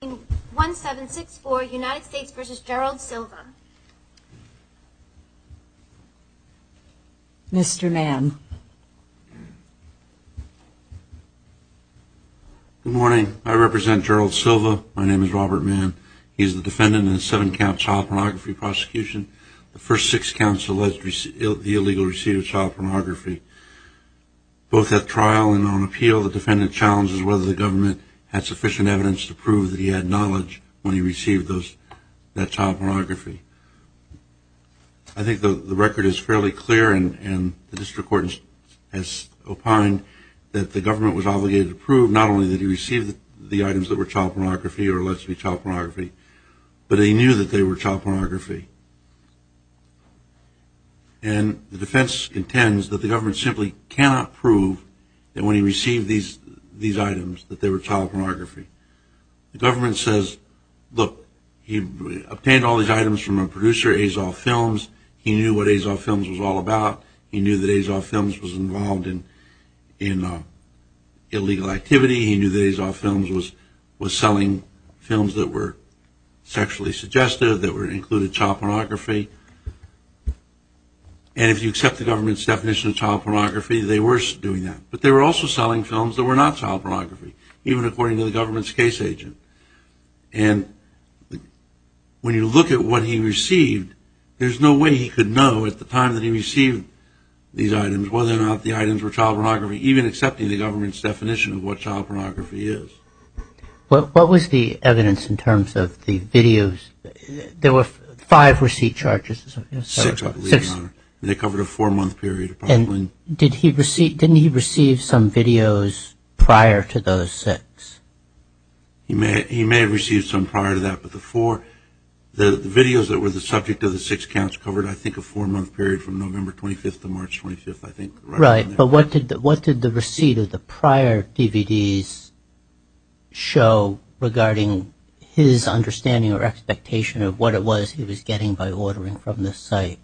Good morning. I represent Gerald Silva. My name is Robert Mann. He is the defendant in a seven-count child pornography prosecution. The first six counts allege the illegal receipt of child pornography. Both at trial and on appeal, the defendant challenges whether the government had sufficient evidence to prove that he was involved in child pornography. I think the record is fairly clear and the district court has opined that the government was obligated to prove not only that he received the items that were child pornography or allegedly child pornography, but he knew that they were child pornography. And the defense contends that the government simply cannot prove that when he received these items that they were child pornography. The government says, look, he obtained all these items from a producer, Azoff Films. He knew what Azoff Films was all about. He knew that Azoff Films was involved in illegal activity. He knew that Azoff Films was selling films that were sexually suggestive, that included child pornography. And if you accept the government's definition of child pornography, they were doing that. But they were also selling films that were not child pornography, even according to the government's case agent. And when you look at what he received, there's no way he could know at the time that he received these items whether or not the items were child pornography, even accepting the government's definition of what child pornography is. What was the evidence in terms of the videos? There were five receipt charges. Six, I believe, Your Honor. They covered a four-month period. And didn't he receive some videos prior to those six? He may have received some prior to that, but the videos that were the subject of the six counts covered, I think, a four-month period from November 25th to March 25th, I think. Right. But what did the receipt of the prior DVDs show regarding his understanding or expectation of what it was he was getting by ordering from this site?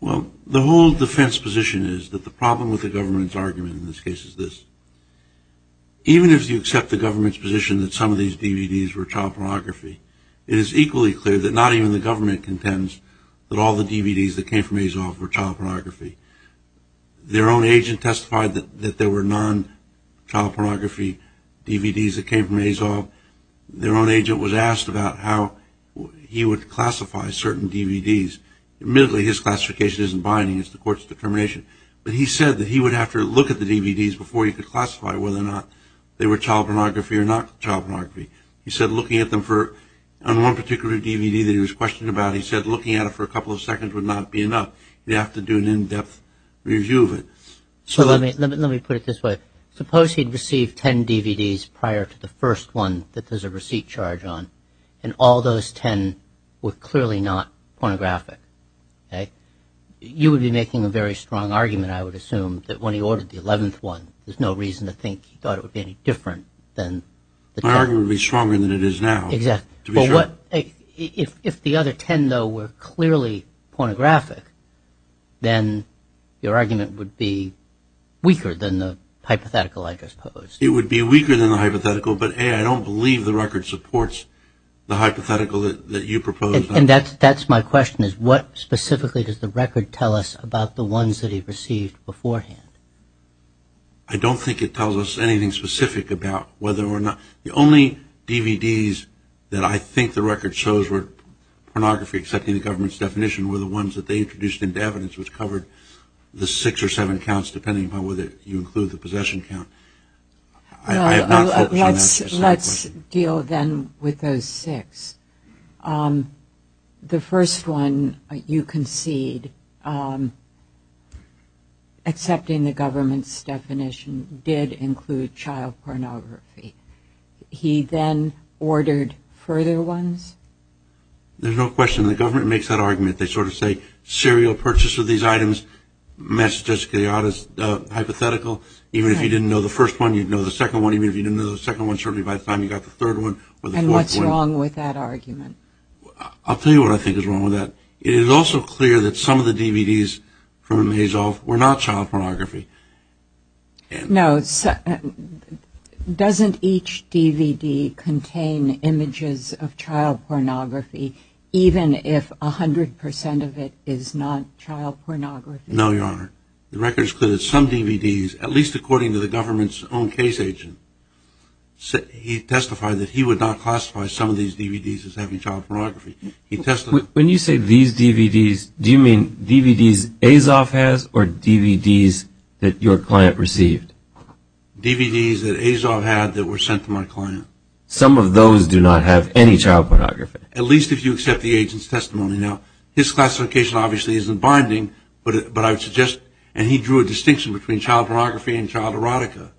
Well, the whole defense position is that the problem with the government's argument in this case is this. Even if you accept the government's position that some of these DVDs were child pornography, it is equally clear that not even the government contends that all the DVDs that came from Azov were child pornography. Their own agent testified that there were non-child pornography DVDs that came from Azov. Their own agent was asked about how he would classify certain DVDs. Admittedly, his classification isn't binding. It's the court's determination. But he said that he would have to look at the DVDs before he could classify whether or not they were child pornography or not child pornography. He said looking at them for – on one particular DVD that he was questioned about, he said looking at it for a couple of seconds would not be enough. He'd have to do an in-depth review of it. Let me put it this way. Suppose he'd received 10 DVDs prior to the first one that there's a receipt charge on, and all those 10 were clearly not pornographic. You would be making a very strong argument, I would assume, that when he ordered the 11th one, there's no reason to think he thought it would be any different than the 10. My argument would be stronger than it is now. Exactly. If the other 10, though, were clearly pornographic, then your argument would be weaker than the hypothetical I just posed. It would be weaker than the hypothetical, but, A, I don't believe the record supports the hypothetical that you proposed. And that's my question, is what specifically does the record tell us about the ones that he received beforehand? I don't think it tells us anything specific about whether or not – the only DVDs that I think the record shows were pornography accepting the government's definition were the ones that they introduced into evidence, which covered the six or seven counts, depending upon whether you include the possession count. I am not focusing on that specific question. Well, let's deal then with those six. The first one, you concede, accepting the government's definition, did include child pornography. He then ordered further ones? There's no question. The government makes that argument. They sort of say, serial purchase of these items matches Jessica Yada's hypothetical. Even if you didn't know the first one, you'd know the second one. Even if you didn't know the second one, certainly by the time you got the third one or the fourth one – And what's wrong with that argument? I'll tell you what I think is wrong with that. It is also clear that some of the DVDs from Hazell were not child pornography. No. Doesn't each DVD contain images of child pornography, even if 100% of it is not child pornography? No, Your Honor. The record is clear that some DVDs, at least according to the government's own case agent, he testified that he would not classify some of these DVDs as having child pornography. When you say these DVDs, do you mean DVDs Azov has or DVDs that your client received? DVDs that Azov had that were sent to my client. Some of those do not have any child pornography? At least if you accept the agent's testimony. Now, his classification obviously isn't binding, but I would suggest – and he drew a distinction between child pornography and child erotica.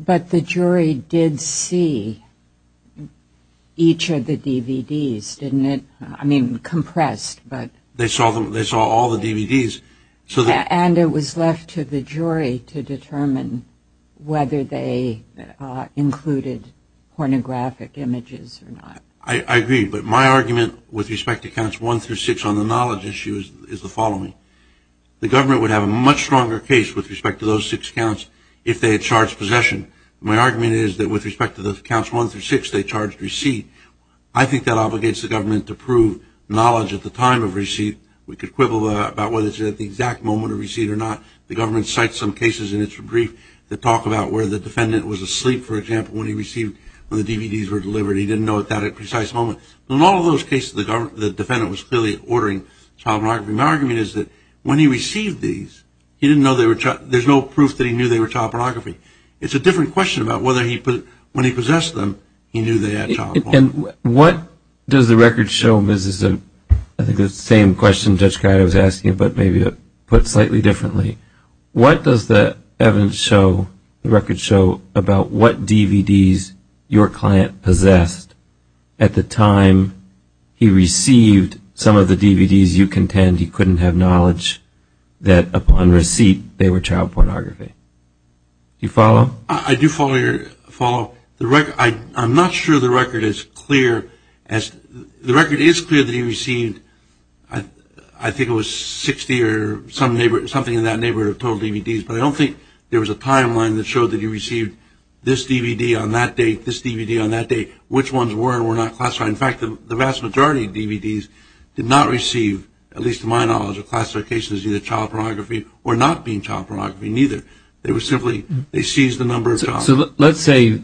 But the jury did see each of the DVDs, didn't it? I mean, compressed, but – They saw all the DVDs. And it was left to the jury to determine whether they included pornographic images or not. I agree, but my argument with respect to counts one through six on the knowledge issue is the following. The government would have a much stronger case with respect to those six counts if they had charged possession. My argument is that with respect to those counts one through six, they charged receipt. I think that obligates the government to prove knowledge at the time of receipt. We could quibble about whether it's at the exact moment of receipt or not. The government cites some cases in its brief that talk about where the defendant was asleep, for example, when he received – when the DVDs were delivered. He didn't know that at a precise moment. In all of those cases, the defendant was clearly ordering child pornography. My argument is that when he received these, he didn't know they were – there's no proof that he knew they were child pornography. It's a different question about whether he put – when he possessed them, he knew they had child pornography. And what does the record show – this is, I think, the same question Judge Guida was asking, but maybe put slightly differently. What does the evidence show, the record show, about what DVDs your client possessed at the time he received some of the DVDs you contend he couldn't have knowledge that upon receipt they were child pornography? Do you follow? I do follow your – follow. The record – I'm not sure the record is clear as – the record is clear that he received, I think it was 60 or something in that neighborhood of total DVDs, but I don't think there was a timeline that showed that he received this DVD on that date, which ones were and were not classified. In fact, the vast majority of DVDs did not receive, at least to my knowledge, a classification as either child pornography or not being child pornography neither. They were simply – they seized the number of child pornography. So let's say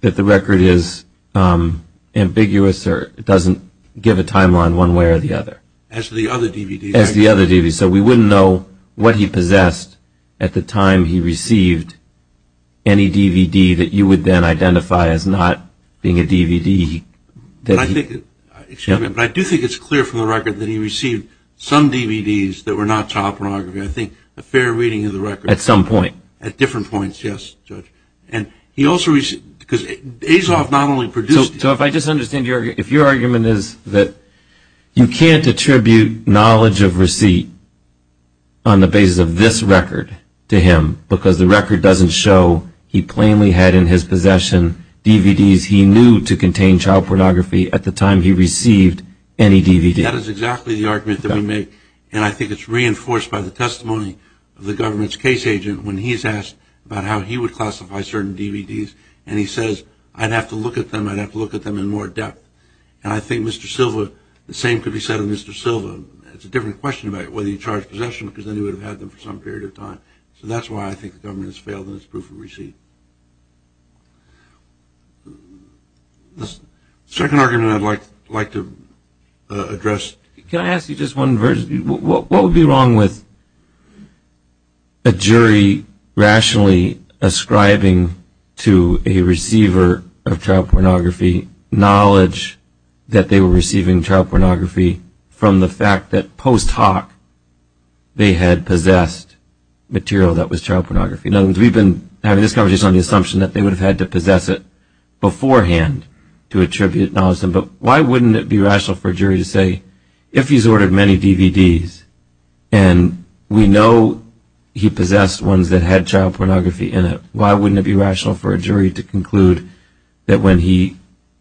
that the record is ambiguous or it doesn't give a timeline one way or the other. As to the other DVDs. As to the other DVDs. So we wouldn't know what he possessed at the time he received any DVD that you would then identify as not being a DVD that he – But I think – excuse me. But I do think it's clear from the record that he received some DVDs that were not child pornography. I think a fair reading of the record. At some point. At different points, yes, Judge. And he also – because Azov not only produced – So if I just understand your – if your argument is that you can't attribute knowledge of receipt on the basis of this record to him because the record doesn't show he plainly had in his possession DVDs he knew to contain child pornography at the time he received any DVD. That is exactly the argument that we make. And I think it's reinforced by the testimony of the government's case agent when he's asked about how he would classify certain DVDs. And he says, I'd have to look at them. I'd have to look at them in more depth. And I think Mr. Silva – the same could be said of Mr. Silva. It's a different question about whether he charged possession because then he would have had them for some period of time. So that's why I think the government has failed in its proof of receipt. The second argument I'd like to address – Can I ask you just one version? What would be wrong with a jury rationally ascribing to a receiver of child pornography knowledge that they were receiving child pornography from the fact that post hoc they had possessed material that was child pornography? Now, we've been having this conversation on the assumption that they would have had to possess it beforehand to attribute knowledge to him. But why wouldn't it be rational for a jury to say, if he's ordered many DVDs and we know he possessed ones that had child pornography in it, why wouldn't it be rational for a jury to conclude that when he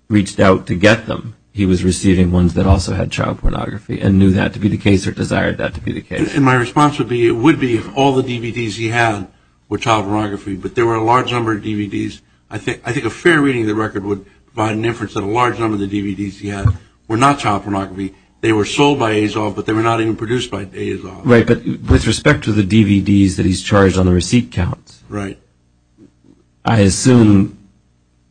reached out to get them, he was receiving ones that also had child pornography and knew that to be the case or desired that to be the case? And my response would be, it would be if all the DVDs he had were child pornography, but there were a large number of DVDs. I think a fair reading of the record would provide an inference that a large number of the DVDs he had were not child pornography. They were sold by Azov, but they were not even produced by Azov. Right, but with respect to the DVDs that he's charged on the receipt counts. Right. I assume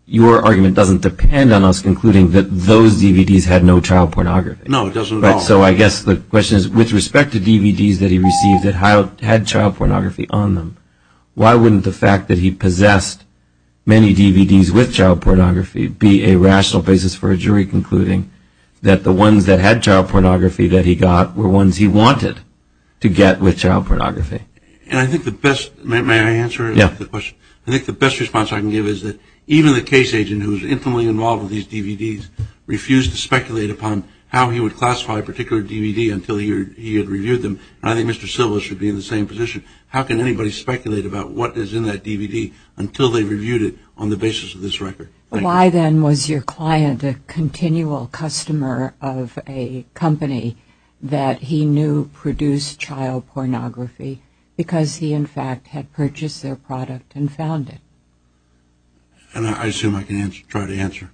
your argument doesn't depend on us concluding that those DVDs had no child pornography. No, it doesn't at all. So I guess the question is, with respect to DVDs that he received that had child pornography on them, why wouldn't the fact that he possessed many DVDs with child pornography be a rational basis for a jury concluding that the ones that had child pornography that he got were ones he wanted to get with child pornography? And I think the best, may I answer the question? Yeah. I think the best response I can give is that even the case agent who was intimately involved with these DVDs refused to speculate upon how he would classify a particular DVD until he had reviewed them. And I think Mr. Silva should be in the same position. How can anybody speculate about what is in that DVD until they've reviewed it on the basis of this record? Why, then, was your client a continual customer of a company that he knew produced child pornography because he, in fact, had purchased their product and found it? I assume I can try to answer.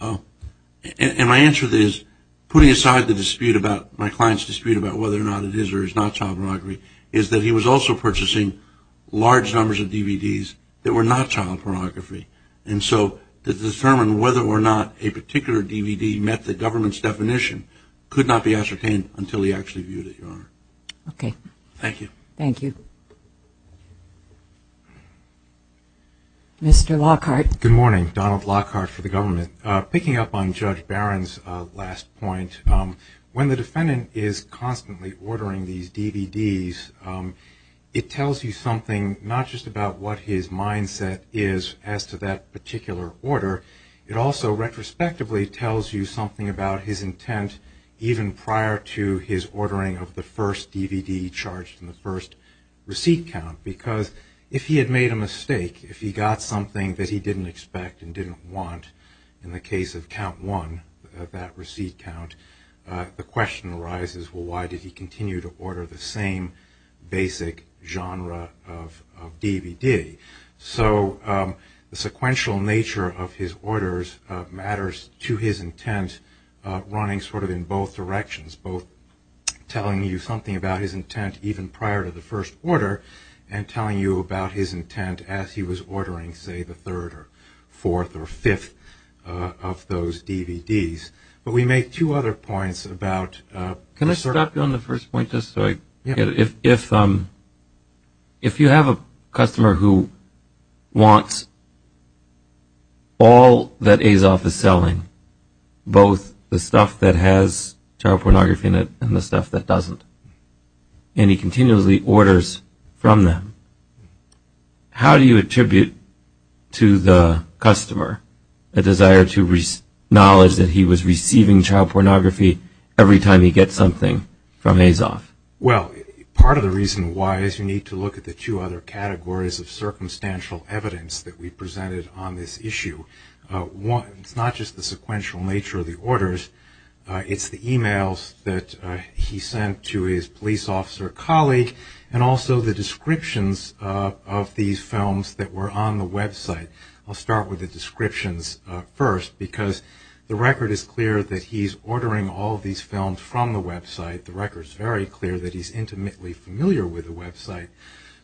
And my answer is, putting aside the dispute about my client's dispute about whether or not it is or is not child pornography, is that he was also purchasing large numbers of DVDs that were not child pornography. And so to determine whether or not a particular DVD met the government's definition could not be ascertained until he actually viewed it, Your Honor. Okay. Thank you. Thank you. Mr. Lockhart. Good morning. Donald Lockhart for the government. Picking up on Judge Barron's last point, when the defendant is constantly ordering these DVDs, it tells you something not just about what his mindset is as to that particular order. It also retrospectively tells you something about his intent even prior to his ordering of the first DVD charged in the first receipt count, because if he had made a mistake, if he got something that he didn't expect and didn't want in the case of count one of that receipt count, the question arises, well, why did he continue to order the same basic genre of DVD? So the sequential nature of his orders matters to his intent running sort of in both directions, both telling you something about his intent even prior to the first order and telling you about his intent as he was ordering, say, the third or fourth or fifth of those DVDs. But we make two other points about... Can I stop you on the first point just so I... Yeah. If you have a customer who wants all that Azoff is selling, both the stuff that has child pornography in it and the stuff that doesn't, and he continuously orders from them, how do you attribute to the customer a desire to acknowledge that he was receiving child pornography every time he gets something from Azoff? Well, part of the reason why is you need to look at the two other categories of circumstantial evidence that we presented on this issue. One, it's not just the sequential nature of the orders. It's the e-mails that he sent to his police officer colleague and also the descriptions of these films that were on the website. I'll start with the descriptions first because the record is clear that he's ordering all of these films from the website. The record's very clear that he's intimately familiar with the website.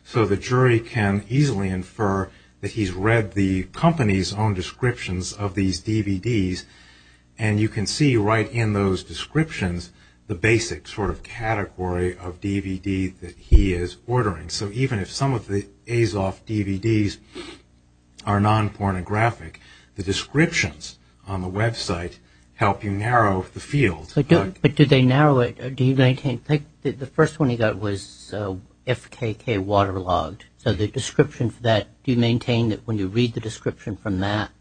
So the jury can easily infer that he's read the company's own descriptions of these DVDs, and you can see right in those descriptions the basic sort of category of DVD that he is ordering. So even if some of the Azoff DVDs are non-pornographic, the descriptions on the website help you narrow the field. But do they narrow it? The first one he got was FKK Waterlogged. So the description for that, do you maintain that when you read the description from that,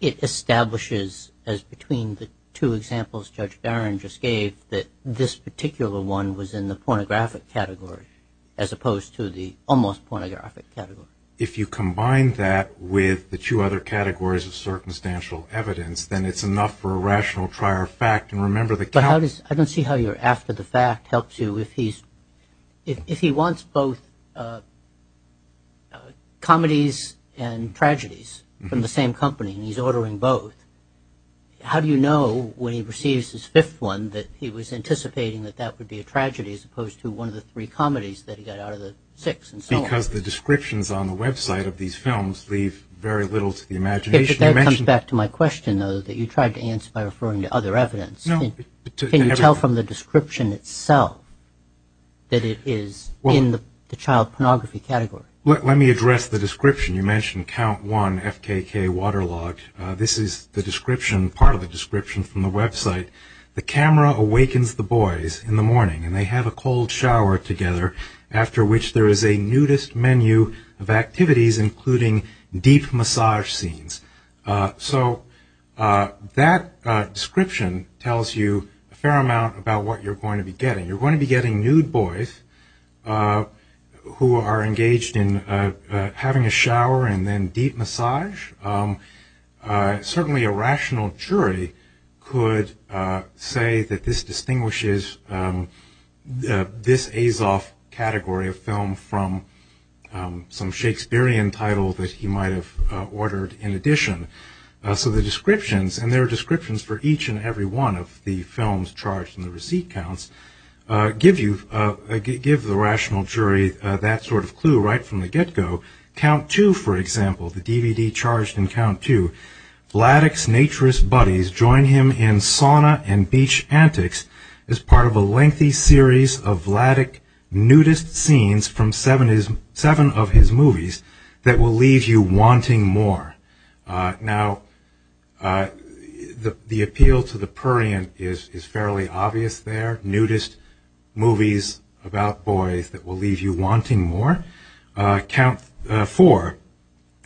it establishes as between the two examples Judge Barron just gave that this particular one was in the pornographic category as opposed to the almost pornographic category? If you combine that with the two other categories of circumstantial evidence, then it's enough for a rational trier of fact. But I don't see how your after the fact helps you. If he wants both comedies and tragedies from the same company and he's ordering both, how do you know when he receives his fifth one that he was anticipating that that would be a tragedy as opposed to one of the three comedies that he got out of the six and so on? Because the descriptions on the website of these films leave very little to the imagination. That comes back to my question, though, that you tried to answer by referring to other evidence. Can you tell from the description itself that it is in the child pornography category? Let me address the description. You mentioned Count One, FKK, Waterlogged. This is the description, part of the description from the website. The camera awakens the boys in the morning, and they have a cold shower together, after which there is a nudist menu of activities, including deep massage scenes. So that description tells you a fair amount about what you're going to be getting. You're going to be getting nude boys who are engaged in having a shower and then deep massage. Certainly a rational jury could say that this distinguishes this Azov category of film from some Shakespearean title that he might have ordered in addition. So the descriptions, and there are descriptions for each and every one of the films charged in the receipt counts, give the rational jury that sort of clue right from the get-go. Count Two, for example, the DVD charged in Count Two, Vladek's naturist buddies join him in sauna and beach antics as part of a lengthy series of Vladek nudist scenes from seven of his movies that will leave you wanting more. Now, the appeal to the prurient is fairly obvious there, nudist movies about boys that will leave you wanting more. Count Four,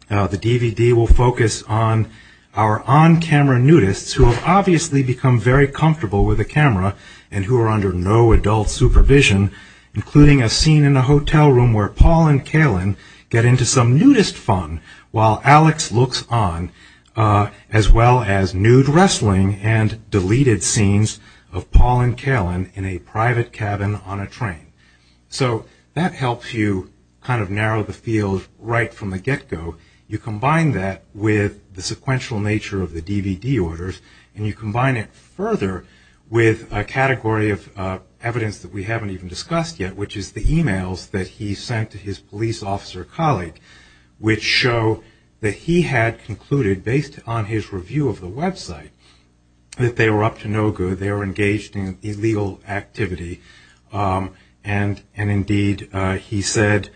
the DVD will focus on our on-camera nudists who have obviously become very comfortable with a camera and who are under no adult supervision, including a scene in a hotel room where Paul and Kalen get into some nudist fun while Alex looks on, as well as nude wrestling and deleted scenes of Paul and Kalen in a private cabin on a train. So that helps you kind of narrow the field right from the get-go. You combine that with the sequential nature of the DVD orders, and you combine it further with a category of evidence that we haven't even discussed yet, which is the emails that he sent to his police officer colleague, which show that he had concluded, based on his review of the website, that they were up to no good, they were engaged in illegal activity. And indeed, he said,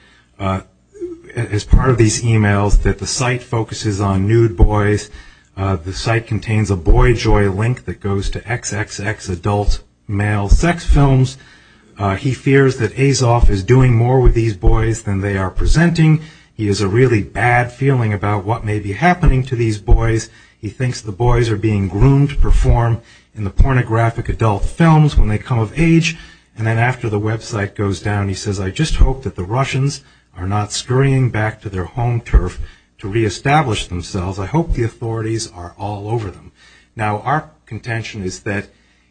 as part of these emails, that the site focuses on nude boys, the site contains a BoyJoy link that goes to XXX adult male sex films. He fears that Azoff is doing more with these boys than they are presenting. He has a really bad feeling about what may be happening to these boys. He thinks the boys are being groomed to perform in the pornographic adult films when they come of age. And then after the website goes down, he says, I just hope that the Russians are not scurrying back to their home turf to reestablish themselves. I hope the authorities are all over them. Now, our contention is that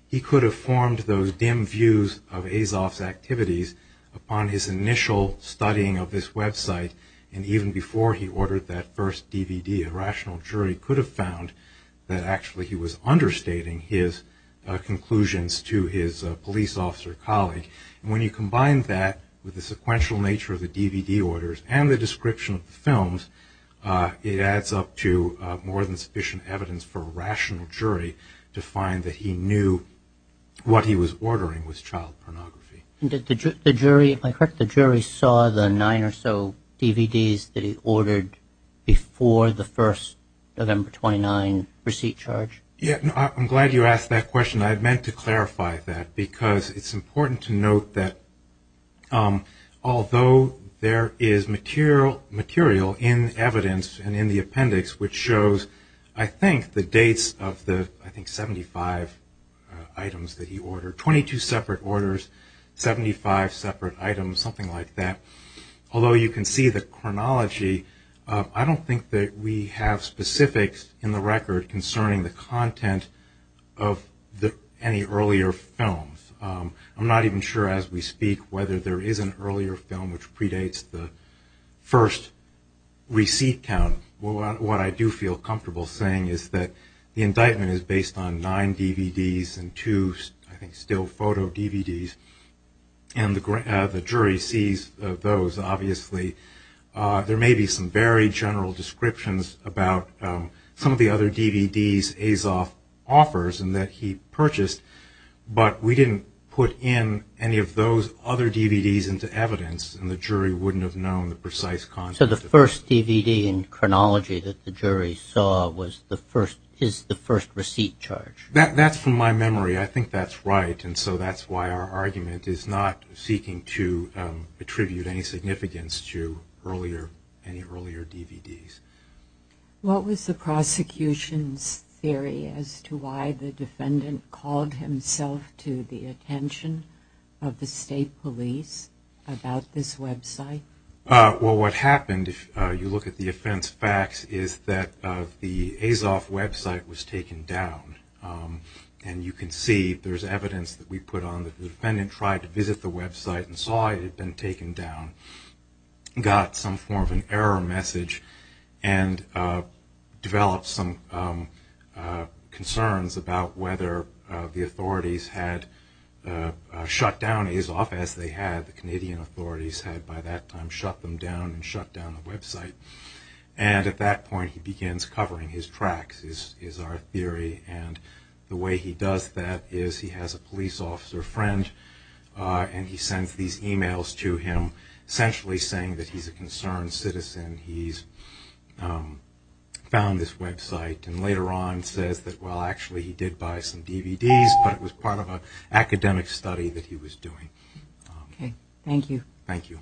he could have formed those dim views of Azoff's activities upon his initial studying of this website, and even before he ordered that first DVD, a rational jury could have found that actually he was understating his conclusions to his police officer colleague. And when you combine that with the sequential nature of the DVD orders and the description of the films, it adds up to more than sufficient evidence for a rational jury to find that he knew what he was ordering was child pornography. And did the jury, if I'm correct, the jury saw the nine or so DVDs that he ordered before the first November 29 receipt charge? I'm glad you asked that question. I meant to clarify that because it's important to note that although there is material in evidence and in the appendix which shows, I think, the dates of the, I think, 75 items that he ordered, 22 separate orders, 75 separate items, something like that. Although you can see the chronology, I don't think that we have specifics in the record concerning the content of any earlier films. I'm not even sure as we speak whether there is an earlier film which predates the first receipt count. What I do feel comfortable saying is that the indictment is based on nine DVDs and two, I think, still photo DVDs, and the jury sees those obviously. There may be some very general descriptions about some of the other DVDs Azoff offers and that he purchased, but we didn't put in any of those other DVDs into evidence and the jury wouldn't have known the precise content. So the first DVD in chronology that the jury saw was the first, is the first receipt charge? That's from my memory. I think that's right and so that's why our argument is not seeking to attribute any significance to any earlier DVDs. What was the prosecution's theory as to why the defendant called himself to the attention of the state police about this website? Well, what happened, if you look at the offense facts, is that the Azoff website was taken down and you can see there's evidence that we put on that the defendant tried to visit the website and saw it had been taken down, got some form of an error message, and developed some concerns about whether the authorities had shut down Azoff as they had, the Canadian authorities had by that time shut them down and shut down the website. And at that point he begins covering his tracks is our theory and the way he does that is he has a police officer friend and he sends these emails to him essentially saying that he's a concerned citizen, he's found this website and later on says that well actually he did buy some DVDs, but it was part of an academic study that he was doing. Thank you. Thank you.